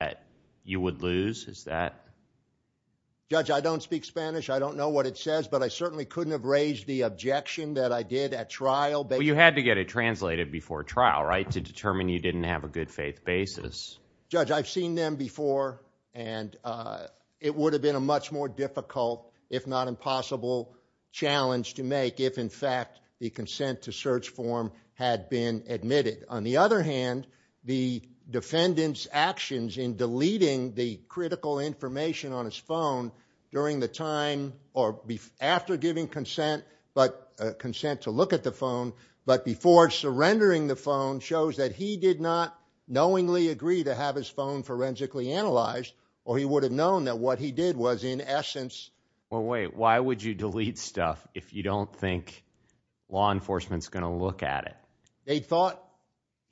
that you would lose? Is that? Judge, I don't speak Spanish. I don't know what it says, but I certainly couldn't have raised the objection that I did at trial. You had to get it translated before trial, right, to determine you didn't have a good faith basis. Judge, I've seen them before, and it would have been a much more difficult, if not impossible, challenge to make if, in fact, the consent to search form had been admitted. On the other hand, the defendant's actions in deleting the critical information on his phone during the time, or after giving consent, but consent to look at the phone, but before surrendering the phone, shows that he did not knowingly agree to have his phone forensically analyzed, or he would have known that what he did was in essence. Well, wait, why would you delete stuff if you don't think law enforcement's going to look at it?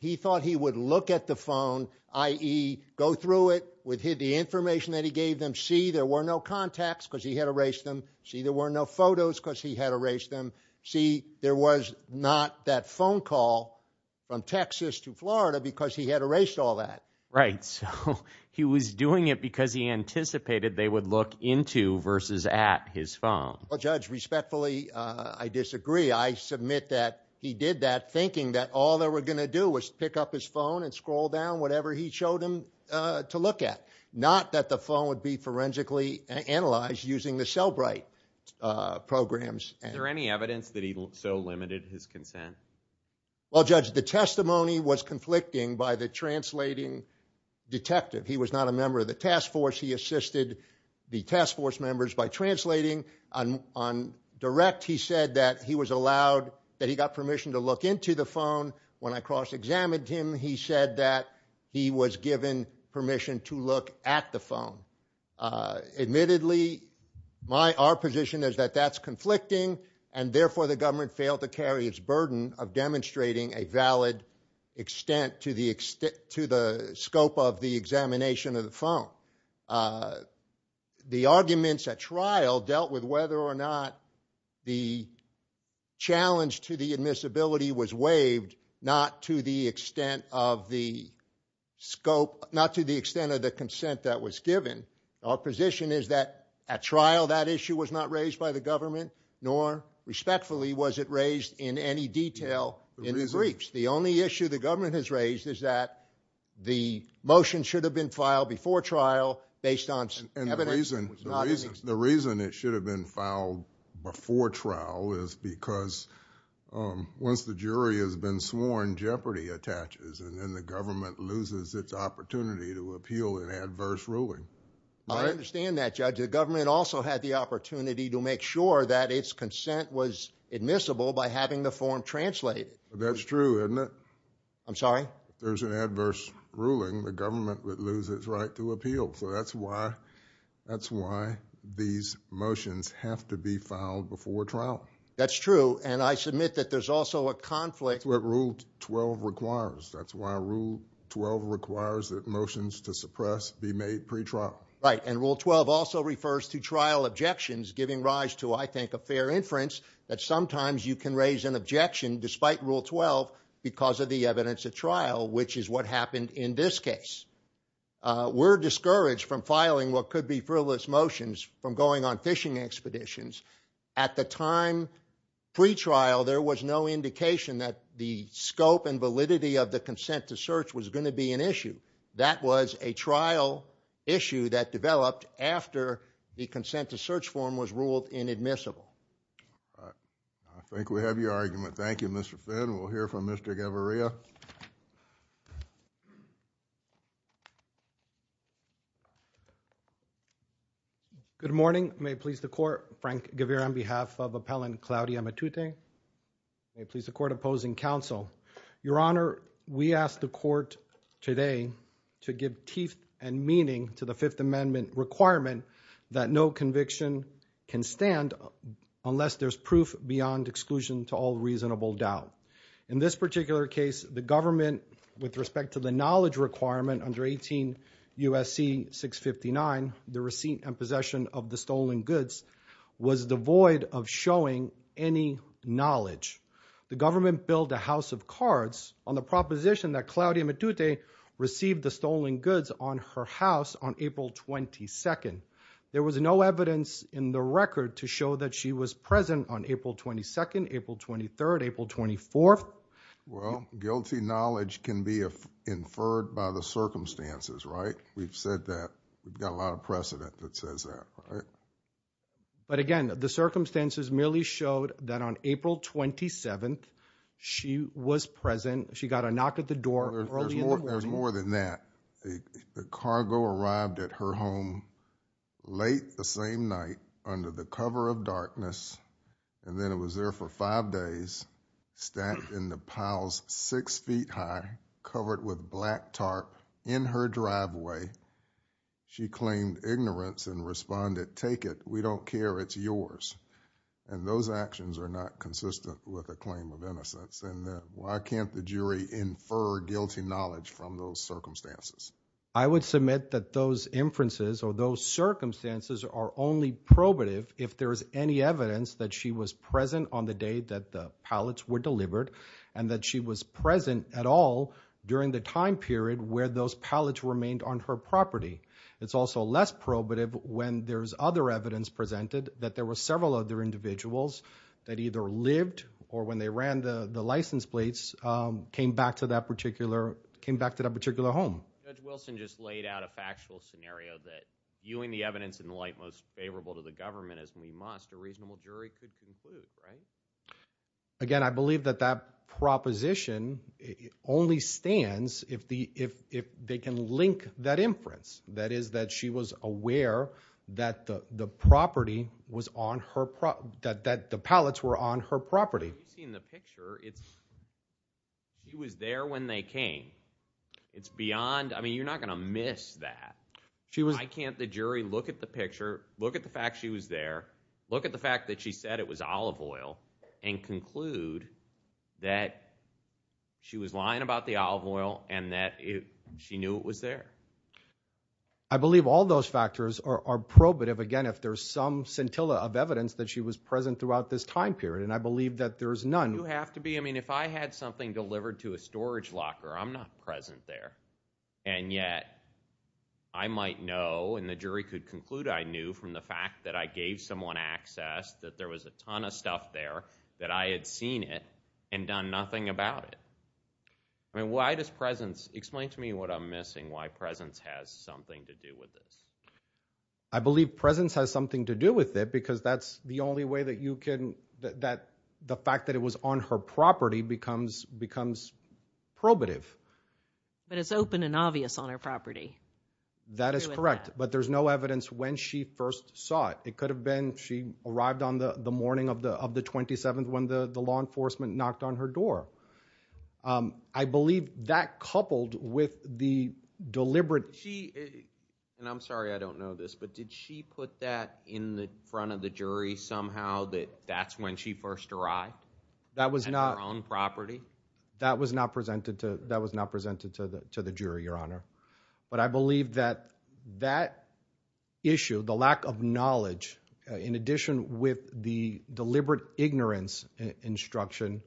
He thought he would look at the phone, i.e. go through it with the information that he gave them, see there were no contacts because he had erased them, see there were no photos because he had erased them, see there was not that phone call from Texas to Florida because he had erased all that. Right, so he was doing it because he anticipated they would look into versus at his phone. Well, Judge, respectfully, I disagree. I submit that he did that thinking that all they were going to do was pick up his phone and scroll down whatever he showed him to look at, not that the phone would be forensically analyzed using the Cellbrite programs. Is there any evidence that he so limited his consent? Well, Judge, the testimony was conflicting by the translating detective. He was not a member of the task force. He assisted the task force members by translating. On direct, he said that he was allowed, that he got permission to look into the phone. When I cross-examined him, he said that he was given permission to look at the phone. Admittedly, our position is that that's conflicting and therefore the government failed to carry its burden of demonstrating a valid extent to the scope of the examination of the phone. The arguments at trial dealt with whether or not the challenge to the admissibility was waived, not to the extent of the scope, not to the extent of the consent that was given. Our position is that at trial that issue was not raised by the government, nor respectfully was it raised in any detail in the briefs. The only issue the government has raised is that the motion should have been filed before trial based on evidence. And the reason it should have been filed before trial is because once the jury has been sworn, jeopardy attaches, and then the government loses its opportunity to appeal an adverse ruling. I understand that, Judge. The government also had the opportunity to make sure that its consent was admissible by having the form translated. That's true, isn't it? I'm sorry? If there's an adverse ruling, the government would lose its right to appeal. So that's why these motions have to be filed before trial. That's true, and I submit that there's also a conflict. That's what Rule 12 requires. That's why Rule 12 requires that motions to suppress be made pre-trial. Right, and Rule 12 also refers to objections giving rise to, I think, a fair inference that sometimes you can raise an objection despite Rule 12 because of the evidence at trial, which is what happened in this case. We're discouraged from filing what could be frivolous motions from going on fishing expeditions. At the time pre-trial, there was no indication that the scope and validity of the consent to search form was ruled inadmissible. I think we have your argument. Thank you, Mr. Finn. We'll hear from Mr. Gaviria. Good morning. May it please the Court. Frank Gaviria on behalf of Appellant Claudia Matute. May it please the Court opposing counsel. Your Honor, we ask the Court today to give teeth and the Fifth Amendment requirement that no conviction can stand unless there's proof beyond exclusion to all reasonable doubt. In this particular case, the government, with respect to the knowledge requirement under 18 U.S.C. 659, the receipt and possession of the stolen goods was devoid of showing any knowledge. The government billed the House of Cards on the proposition that her house on April 22nd. There was no evidence in the record to show that she was present on April 22nd, April 23rd, April 24th. Well, guilty knowledge can be inferred by the circumstances, right? We've said that. We've got a lot of precedent that says that, right? But again, the circumstances merely showed that on April 27th, she was present. She got a knock at the door. There's more than that. The cargo arrived at her home late the same night under the cover of darkness, and then it was there for five days, stacked in the piles six feet high, covered with black tarp in her driveway. She claimed ignorance and responded, take it. We don't care. It's yours. And those actions are not consistent with a claim of knowledge from those circumstances. I would submit that those inferences or those circumstances are only probative if there is any evidence that she was present on the day that the pallets were delivered and that she was present at all during the time period where those pallets remained on her property. It's also less probative when there's other evidence presented that there were several other individuals that either lived or when they ran the license plates, came back to that particular home. Judge Wilson just laid out a factual scenario that viewing the evidence in the light most favorable to the government as we must, a reasonable jury could conclude, right? Again, I believe that that proposition only stands if they can link that inference. That is, that she was aware that the pallets were on her property. She was there when they came. It's beyond, I mean, you're not going to miss that. I can't the jury look at the picture, look at the fact she was there, look at the fact that she said it was olive oil and conclude that she was lying about the olive oil and that she knew it was there. I believe all those factors are probative again if there's some scintilla of evidence that she was present throughout this time period and I believe that there's none. You have to be, I mean, if I had something delivered to a storage locker, I'm not present there and yet I might know and the jury could conclude I knew from the fact that I gave someone access that there was a ton of stuff there that I had seen it and done nothing about it. I mean, why does presence, explain to me what I'm missing, why presence has something to do with this? I believe presence has something to do with it because that's the only way that you can, that the fact that it was on her property becomes probative. But it's open and obvious on her property. That is correct, but there's no evidence when she first saw it. It could have been she arrived on the morning of the 27th when the law enforcement knocked on her door. I believe that coupled with the deliberate. She, and I'm sorry, I don't know this, but did she put that in the front of the jury somehow that that's when she first arrived? That was not on property. That was not presented to, that was not presented to the, to the jury, your honor. But I believe that that issue, the lack of knowledge, in addition with the deliberate ignorance instruction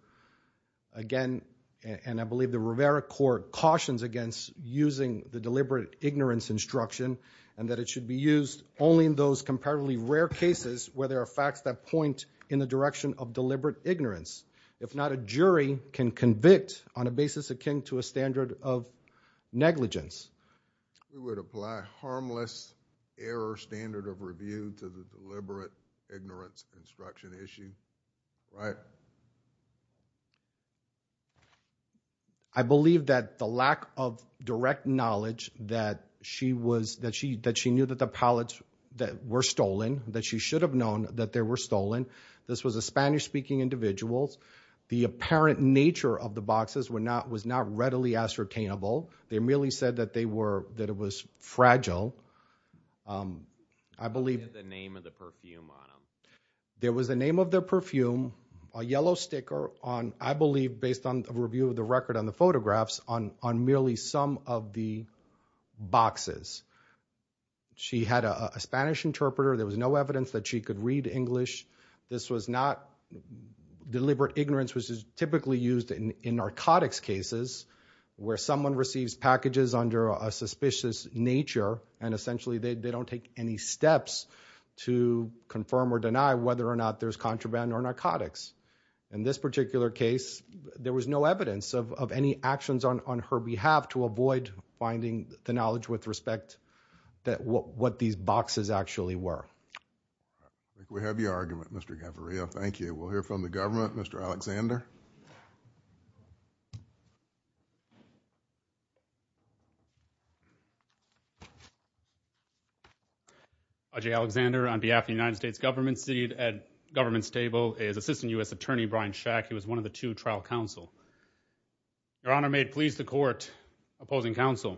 again, and I believe the Rivera court cautions against using the deliberate ignorance instruction and that it should be used only in those comparatively rare cases where there are facts that point in the direction of deliberate ignorance. If not, a jury can convict on a basis akin to a standard of negligence. We would apply harmless error standard of review to the deliberate ignorance instruction issue, right? I believe that the lack of direct knowledge that she was, that she, that she knew that the pallets that were stolen, that she should have known that there were stolen. This was a Spanish speaking individuals. The apparent nature of the boxes were not, was not readily ascertainable. They merely said that they were, that it was fragile. Um, I believe the name of the perfume on them, there was the name of their perfume, a yellow sticker on, I believe based on a review of the record on the photographs on, on merely some of the boxes. She had a Spanish interpreter. There was no evidence that she could read English. This was not deliberate ignorance, which is typically used in narcotics cases where someone receives packages under a suspicious nature and essentially they don't take any steps to confirm or deny whether or not there's contraband or narcotics. In this particular case, there was no evidence of any actions on her behalf to avoid finding the knowledge with respect that what these boxes actually were. We have your argument, Mr. Gaviria. Thank you. We'll hear from the government, Mr. Alexander. Okay. Alexander on behalf of the United States government seat at government's table is assistant us attorney Brian shack. He was one of the two trial counsel. Your honor made police, the court opposing counsel,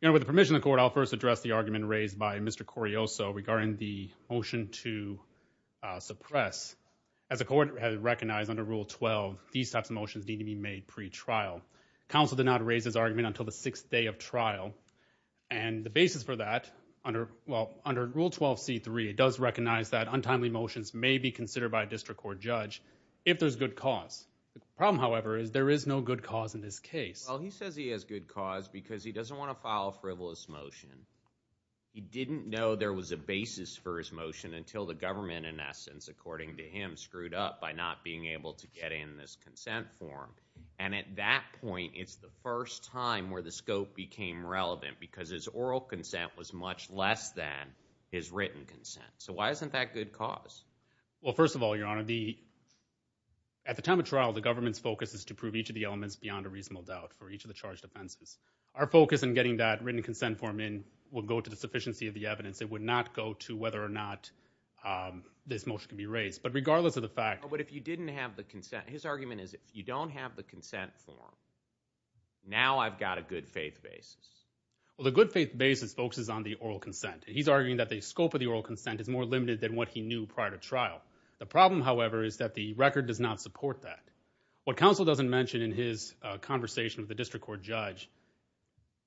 you know, with the permission of court, I'll first address the argument raised by Mr. Corio. So regarding the motion to counsel did not raise his argument until the sixth day of trial and the basis for that under, well, under rule 12 C3, it does recognize that untimely motions may be considered by a district court judge if there's good cause. The problem, however, is there is no good cause in this case. Well, he says he has good cause because he doesn't want to file a frivolous motion. He didn't know there was a basis for his motion until the government in essence, according to him, screwed up by not being able to get in this consent form. And at that point, it's the first time where the scope became relevant because his oral consent was much less than his written consent. So why isn't that good cause? Well, first of all, your honor, the, at the time of trial, the government's focus is to prove each of the elements beyond a reasonable doubt for each of the charged offenses. Our focus in getting that written consent form in will go to the sufficiency of the evidence. It would not go to whether or not this motion can be raised, but regardless of the fact, but if you didn't have the consent, his argument is if you don't have the consent form, now I've got a good faith basis. Well, the good faith basis focuses on the oral consent. He's arguing that the scope of the oral consent is more limited than what he knew prior to trial. The problem, however, is that the record does not support that. What counsel doesn't mention in his conversation with the district court judge,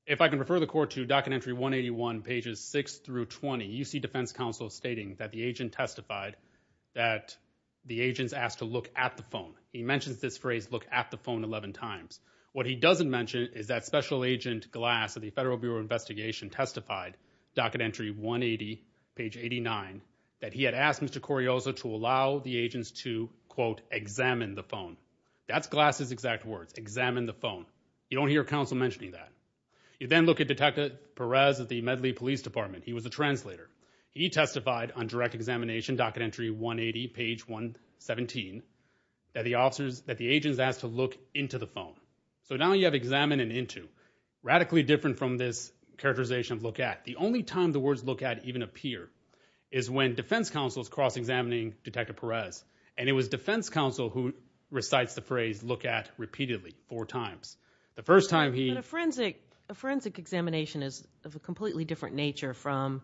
if I can refer the court to docket entry 181 pages six through 20, UC defense counsel stating that the agent testified that the agents asked to look at the phone. He mentions this phrase, look at the phone 11 times. What he doesn't mention is that special agent glass at the federal bureau of investigation testified docket entry one 80 page 89 that he had asked Mr. Corioza to allow the agents to quote, examine the phone. That's glasses, exact words, examine the phone. You don't hear counsel mentioning that you then look at detective Perez at the medley police department. He was a translator. He testified on direct examination, docket entry one 80 page one 17 that the officers, that the agents asked to look into the phone. So now you have examined and into radically different from this characterization of look at the only time the words look at even appear is when defense counsel is cross examining detective Perez. And it was defense counsel who recites the phrase look at repeatedly four times. The first time he a forensic examination is of a completely different nature from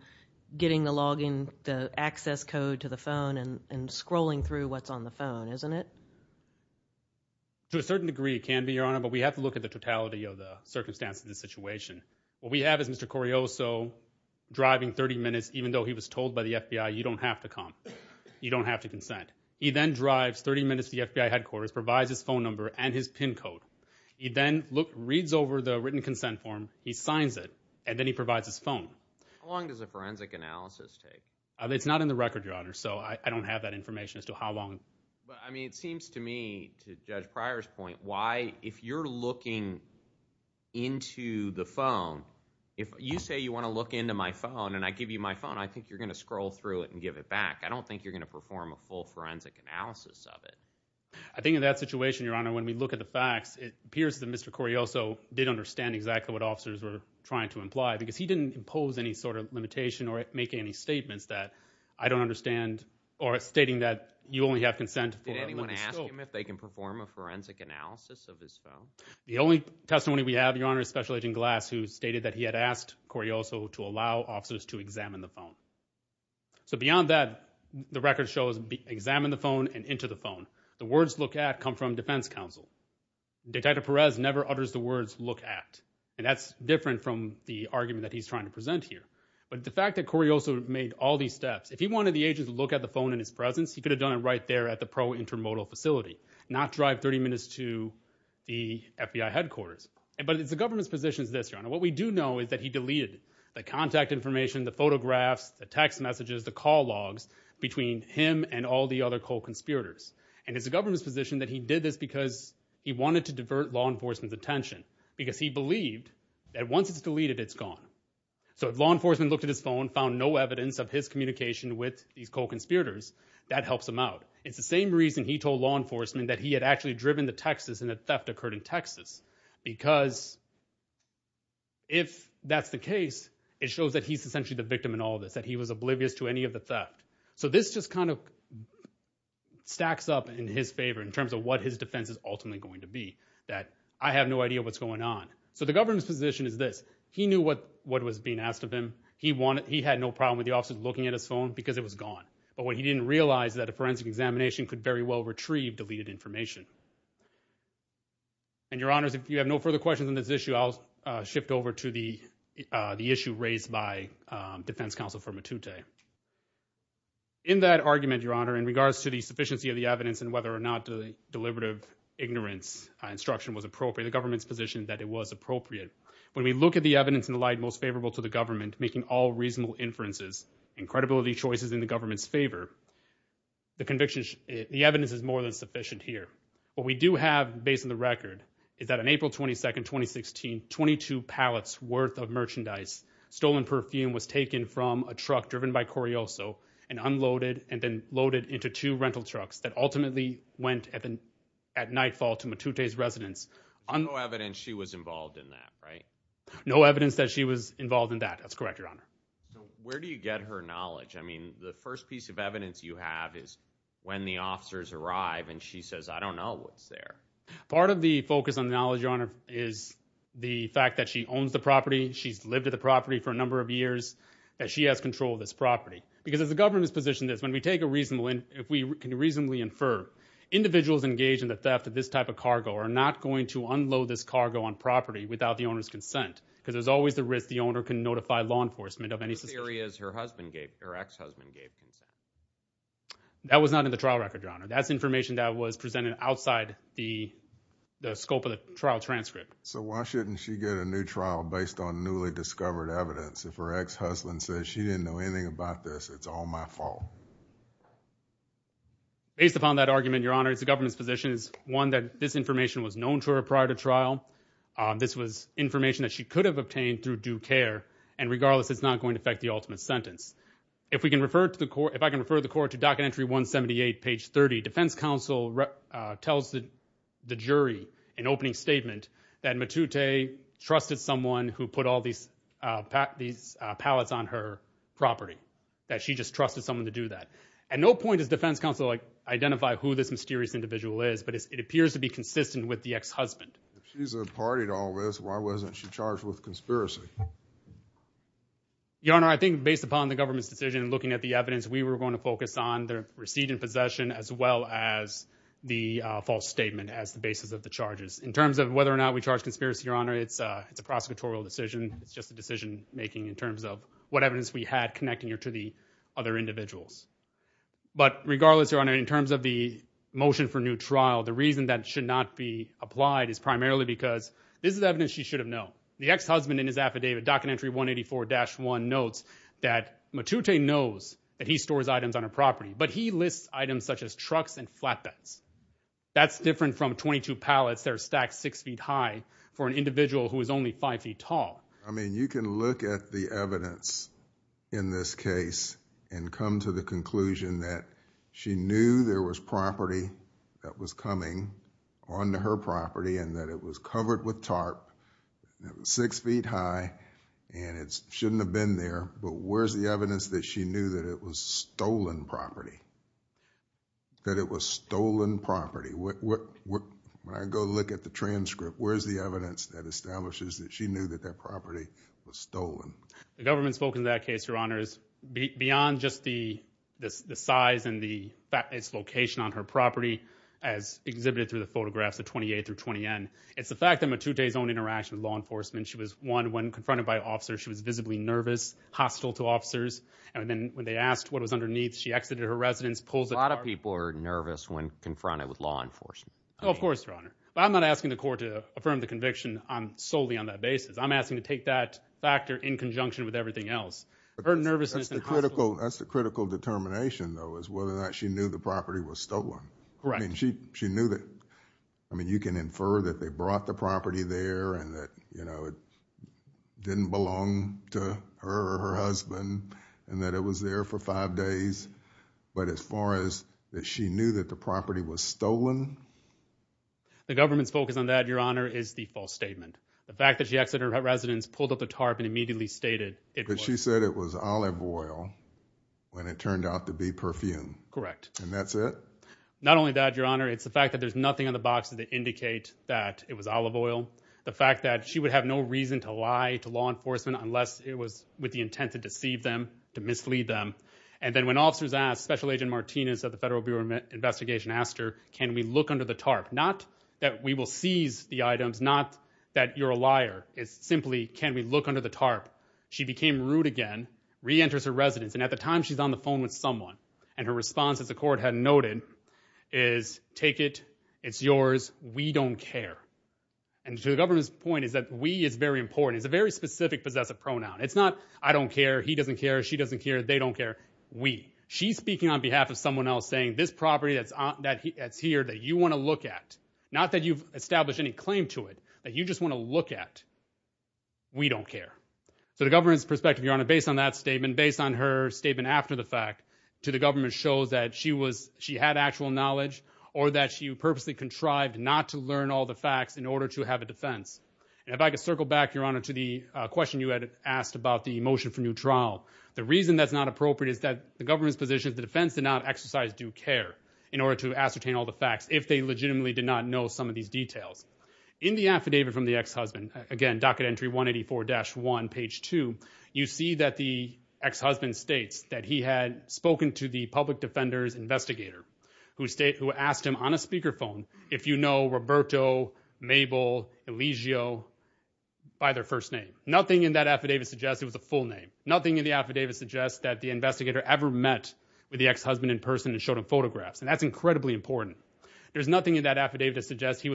getting the login, the access code to the phone and scrolling through what's on the phone, isn't it? To a certain degree, it can be your honor, but we have to look at the totality of the circumstances of the situation. What we have is Mr. Coriozo driving 30 minutes, even though he was told by the FBI, you don't have to come. You don't have to consent. He then drives 30 minutes. The FBI provides his phone number and his pin code. He then reads over the written consent form. He signs it and then he provides his phone. How long does a forensic analysis take? It's not in the record, your honor. So I don't have that information as to how long. But I mean, it seems to me, to judge Pryor's point, why, if you're looking into the phone, if you say you want to look into my phone and I give you my phone, I think you're going to scroll through it and give it back. I think in that situation, your honor, when we look at the facts, it appears that Mr. Coriozo did understand exactly what officers were trying to imply because he didn't impose any sort of limitation or make any statements that I don't understand or stating that you only have consent. Did anyone ask him if they can perform a forensic analysis of his phone? The only testimony we have, your honor, is Special Agent Glass, who stated that he had asked Coriozo to allow officers to examine the phone. So beyond that, the record shows examine the phone and into the phone. The words look at come from defense counsel. Detective Perez never utters the words look at. And that's different from the argument that he's trying to present here. But the fact that Coriozo made all these steps, if he wanted the agents to look at the phone in his presence, he could have done it right there at the pro intermodal facility, not drive 30 minutes to the FBI headquarters. But it's the government's positions this, your honor. What we do know is that he deleted the contact information, the photographs, the text messages, the call logs between him and all the other co-conspirators. And it's the government's position that he did this because he wanted to divert law enforcement's attention, because he believed that once it's deleted, it's gone. So if law enforcement looked at his phone, found no evidence of his communication with these co-conspirators, that helps him out. It's the same reason he told law enforcement that he had actually driven to Texas and that theft occurred in Texas. Because if that's the case, it shows that he's essentially the victim in all of this, that he was oblivious to any of the theft. So this just kind of stacks up in his favor in terms of what his defense is ultimately going to be, that I have no idea what's going on. So the government's position is this. He knew what was being asked of him. He had no problem with the officers looking at his phone because it was gone. But what he didn't realize is that a forensic examination could very well retrieve deleted information. And your honors, if you have no further questions on this issue, I'll shift over to the issue raised by defense counsel for Matute. In that argument, your honor, in regards to the sufficiency of the evidence and whether or not the deliberative ignorance instruction was appropriate, the government's position that it was appropriate. When we look at the evidence in the light most favorable to the government, making all reasonable inferences and credibility choices in the government's favor, the evidence is more than sufficient here. What we do have, based on the record, is that on April 22nd, 2016, 22 pallets worth of merchandise, stolen perfume was taken from a truck driven by Correoso and unloaded and then loaded into two rental trucks that ultimately went at nightfall to Matute's residence. No evidence she was involved in that, right? No evidence that she was involved in that. That's correct, your honor. So where do you get her knowledge? I mean, the first piece of evidence you have is when the officers arrive and she says, I don't know what's there. Part of the focus on knowledge, your honor, is the fact that she owns the property. She's lived the property for a number of years, that she has control of this property. Because as the government's position is, when we take a reasonable, if we can reasonably infer, individuals engaged in the theft of this type of cargo are not going to unload this cargo on property without the owner's consent, because there's always the risk the owner can notify law enforcement of any suspicion. The theory is her husband gave, her ex-husband gave consent. That was not in the trial record, your honor. That's information that was presented outside the scope of the trial transcript. So why shouldn't she get a new trial based on newly discovered evidence? If her ex-husband says she didn't know anything about this, it's all my fault. Based upon that argument, your honor, the government's position is, one, that this information was known to her prior to trial. This was information that she could have obtained through due care, and regardless, it's not going to affect the ultimate sentence. If we can refer to the court, if I can refer the court to docket entry 178, page 30, defense counsel tells the jury in opening statement that Matute trusted someone who put all these pallets on her property, that she just trusted someone to do that. At no point does defense counsel identify who this mysterious individual is, but it appears to be consistent with the ex-husband. If she's a party to all this, why wasn't she charged with conspiracy? Your honor, I think based upon the government's decision and looking at the evidence, we were going to focus on the receipt and possession as well as the false statement as the basis of the charges. In terms of whether or not we charge conspiracy, your honor, it's a prosecutorial decision. It's just a decision making in terms of what evidence we had connecting her to the other individuals. But regardless, your honor, in terms of the motion for new trial, the reason that it should not be applied is primarily because this is evidence she should have known. The ex-husband in his affidavit, docket entry 184-1, notes that Matute knows that he stores items on her property, but he lists items such as trucks and flatbeds. That's different from 22 pallets that are stacked six feet high for an individual who is only five feet tall. I mean, you can look at the evidence in this case and come to the conclusion that she knew there was property that was coming onto her property and that it was covered with tarp, six feet high, and it shouldn't have been there. But where's the evidence that she knew that it was stolen property? That it was stolen property? When I go look at the transcript, where's the evidence that establishes that she knew that that property was stolen? The government spoke in that case, your honors, beyond just the size and the location on her property as exhibited through the photographs of 28th through 20N. It's the fact that Matute's own interaction with law enforcement, she was one when confronted by officers, she was visibly nervous, hostile to officers, and then when they asked what was underneath, she exited her residence, pulls a tarp. A lot of people are nervous when confronted with law enforcement. Oh, of course, your honor. But I'm not asking the court to affirm the conviction solely on that basis. I'm asking to take that factor in conjunction with everything else. That's the critical determination, though, is whether or not she knew the property was stolen. Correct. I mean, she knew that, I mean, you can infer that they brought the property there and you know, it didn't belong to her or her husband, and that it was there for five days, but as far as that she knew that the property was stolen? The government's focus on that, your honor, is the false statement. The fact that she exited her residence, pulled up the tarp, and immediately stated it. But she said it was olive oil when it turned out to be perfume. Correct. And that's it? Not only that, your honor, it's the fact that there's nothing on the boxes that indicate that it was olive oil. The fact that she would have no reason to lie to law enforcement unless it was with the intent to deceive them, to mislead them. And then when officers asked, Special Agent Martinez of the Federal Bureau of Investigation asked her, can we look under the tarp? Not that we will seize the items, not that you're a liar. It's simply, can we look under the tarp? She became rude again, reenters her residence, and at the time we don't care. And to the government's point is that we is very important. It's a very specific possessive pronoun. It's not I don't care, he doesn't care, she doesn't care, they don't care. We. She's speaking on behalf of someone else saying this property that's here that you want to look at. Not that you've established any claim to it, that you just want to look at. We don't care. So the government's perspective, your honor, based on that statement, based on her statement after the fact to the government shows that she had actual knowledge or that she purposely contrived not to learn all the facts in order to have a defense. And if I could circle back, your honor, to the question you had asked about the motion for new trial. The reason that's not appropriate is that the government's position of the defense did not exercise due care in order to ascertain all the facts if they legitimately did not know some of these details. In the affidavit from the ex-husband, again, docket entry 184-1, page 2, you see that the ex-husband states that he had spoken to the public defender's investigator who asked him on a speakerphone, if you know Roberto, Mabel, Elegio by their first name. Nothing in that affidavit suggests it was a full name. Nothing in the affidavit suggests that the investigator ever met with the ex-husband in person and showed him photographs. And that's incredibly important. There's nothing in that affidavit to suggest he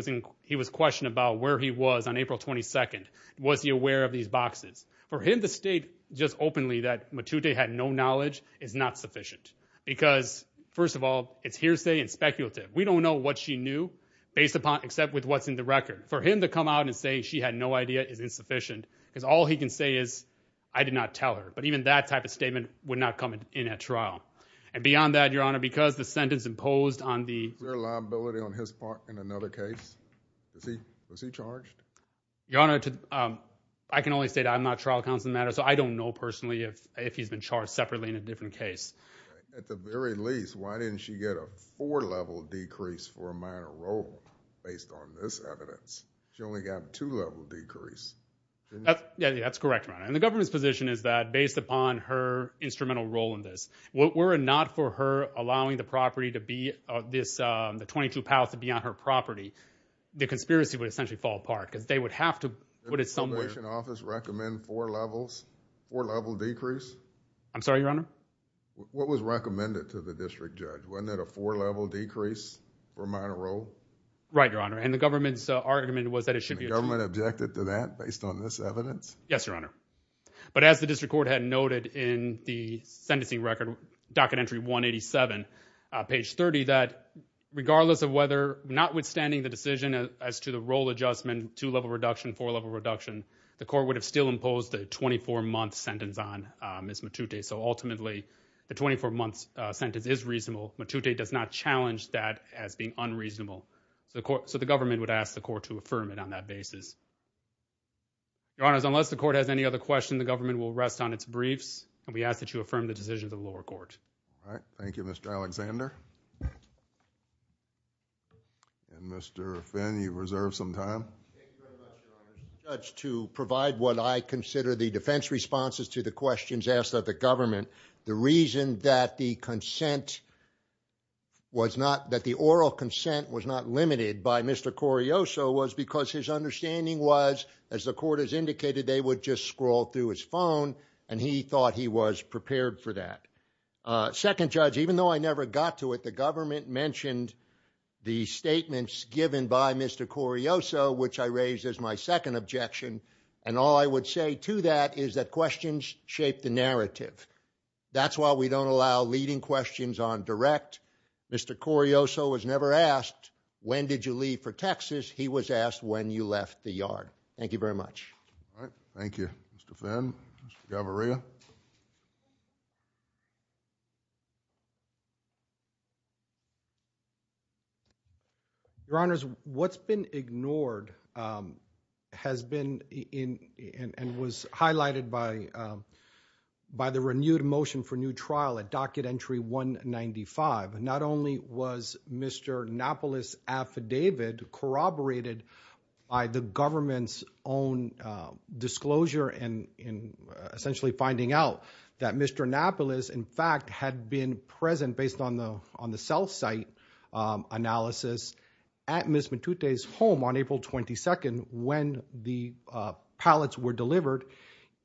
was questioned about where he was on April 22nd. Was he aware of these boxes? For him to state just openly that Matute had no knowledge is not sufficient because, first of all, it's hearsay and speculative. We don't know what she knew based upon except with what's in the record. For him to come out and say she had no idea is insufficient because all he can say is I did not tell her. But even that type of statement would not come in at trial. And beyond that, your honor, because the sentence imposed on the... Is there a liability on his part in another case? Was he charged? Your honor, I can only say that I'm not trial counsel in the matter, so I don't know personally if he's been charged separately in a different case. At the very least, why didn't she get a four-level decrease for a minor role based on this evidence? She only got a two-level decrease. Yeah, that's correct, your honor. And the government's position is that based upon her instrumental role in this, were it not for her allowing the property to be... The 22 to be on her property, the conspiracy would essentially fall apart because they would have to... Would a probation office recommend four-level decrease? I'm sorry, your honor? What was recommended to the district judge? Wasn't it a four-level decrease for a minor role? Right, your honor. And the government's argument was that it should be... The government objected to that based on this evidence? Yes, your honor. But as the district court had noted in the sentencing record, docket entry 187, page 30, that regardless of whether... Notwithstanding the decision as to the role adjustment, two-level reduction, four-level reduction, the court would have still imposed a 24-month sentence on Ms. Matute. So ultimately, the 24-month sentence is reasonable. Matute does not challenge that as being unreasonable. So the government would ask the court to affirm it on that basis. Your honors, unless the court has any other questions, the government will rest on its briefs, and we ask that you affirm the decisions of the lower court. All right. Thank you, Mr. Alexander. And Mr. Finn, you've reserved some time. Thank you very much, your honor. Judge, to provide what I consider the defense responses to the questions asked of the government, the reason that the consent was not... That the oral consent was not limited by Mr. Correoso was because his understanding was, as the court has indicated, they would just scroll through his phone, and he thought he was prepared for that. Second judge, even though I never got to it, the government mentioned the statements given by Mr. Correoso, which I raised as my second objection, and all I would say to that is that questions shape the narrative. That's why we don't allow leading questions on direct. Mr. Correoso was never asked, when did you leave for Texas? He was asked when you left the yard. Thank you very much. All right. Thank you, Mr. Finn. Mr. Gavarria. Your honors, what's been ignored has been in and was highlighted by the renewed motion for by the government's own disclosure and essentially finding out that Mr. Anapolis, in fact, had been present based on the cell site analysis at Ms. Matute's home on April 22nd when the pallets were delivered.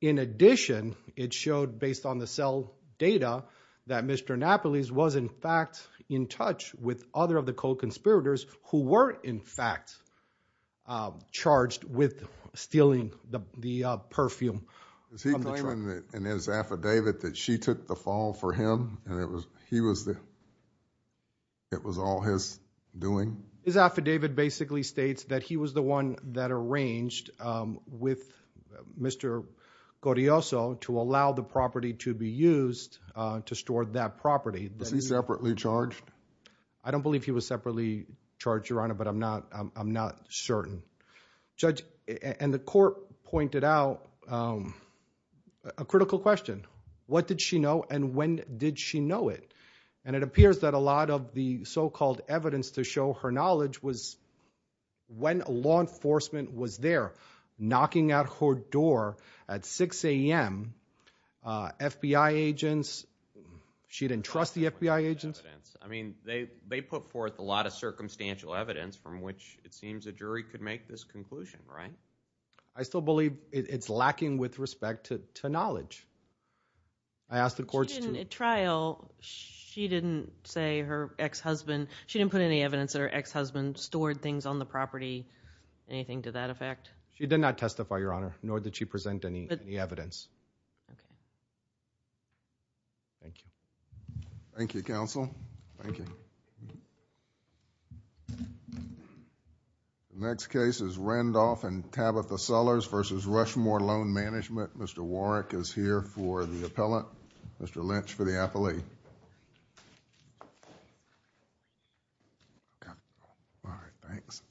In addition, it showed based on the cell data that Mr. Anapolis was, in fact, in touch with other of the co-conspirators who were, in fact, charged with stealing the perfume. Is he claiming in his affidavit that she took the fall for him and it was all his doing? His affidavit basically states that he was the one that arranged with Mr. Correoso to allow the property to be used to store that property. Was he separately charged? I don't believe he was separately charged, your honor, but I'm not certain. Judge, and the court pointed out a critical question. What did she know and when did she know it? And it appears that a lot of the so-called evidence to show her knowledge was when law enforcement was there knocking at her door at 6 a.m. FBI agents. She didn't trust the FBI agents? I mean, they put forth a lot of circumstantial evidence from which it seems a jury could make this conclusion, right? I still believe it's lacking with respect to knowledge. I asked the courts. She didn't say her ex-husband, she didn't put any evidence that her ex-husband stored things on the property, anything to that effect? She did not testify, your honor, nor did she present any evidence. Okay. Thank you. Thank you, counsel. Thank you. The next case is Randolph and Tabitha Sellers v. Rushmore Loan Management. Mr. Warrick is here for the appellant. Mr. Lynch for the appellee. All right, thanks.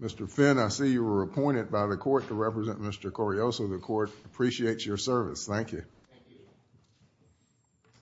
Mr. Finn, I see you were appointed by the court to represent Mr. Correoso. The court appreciates your service. Thank you.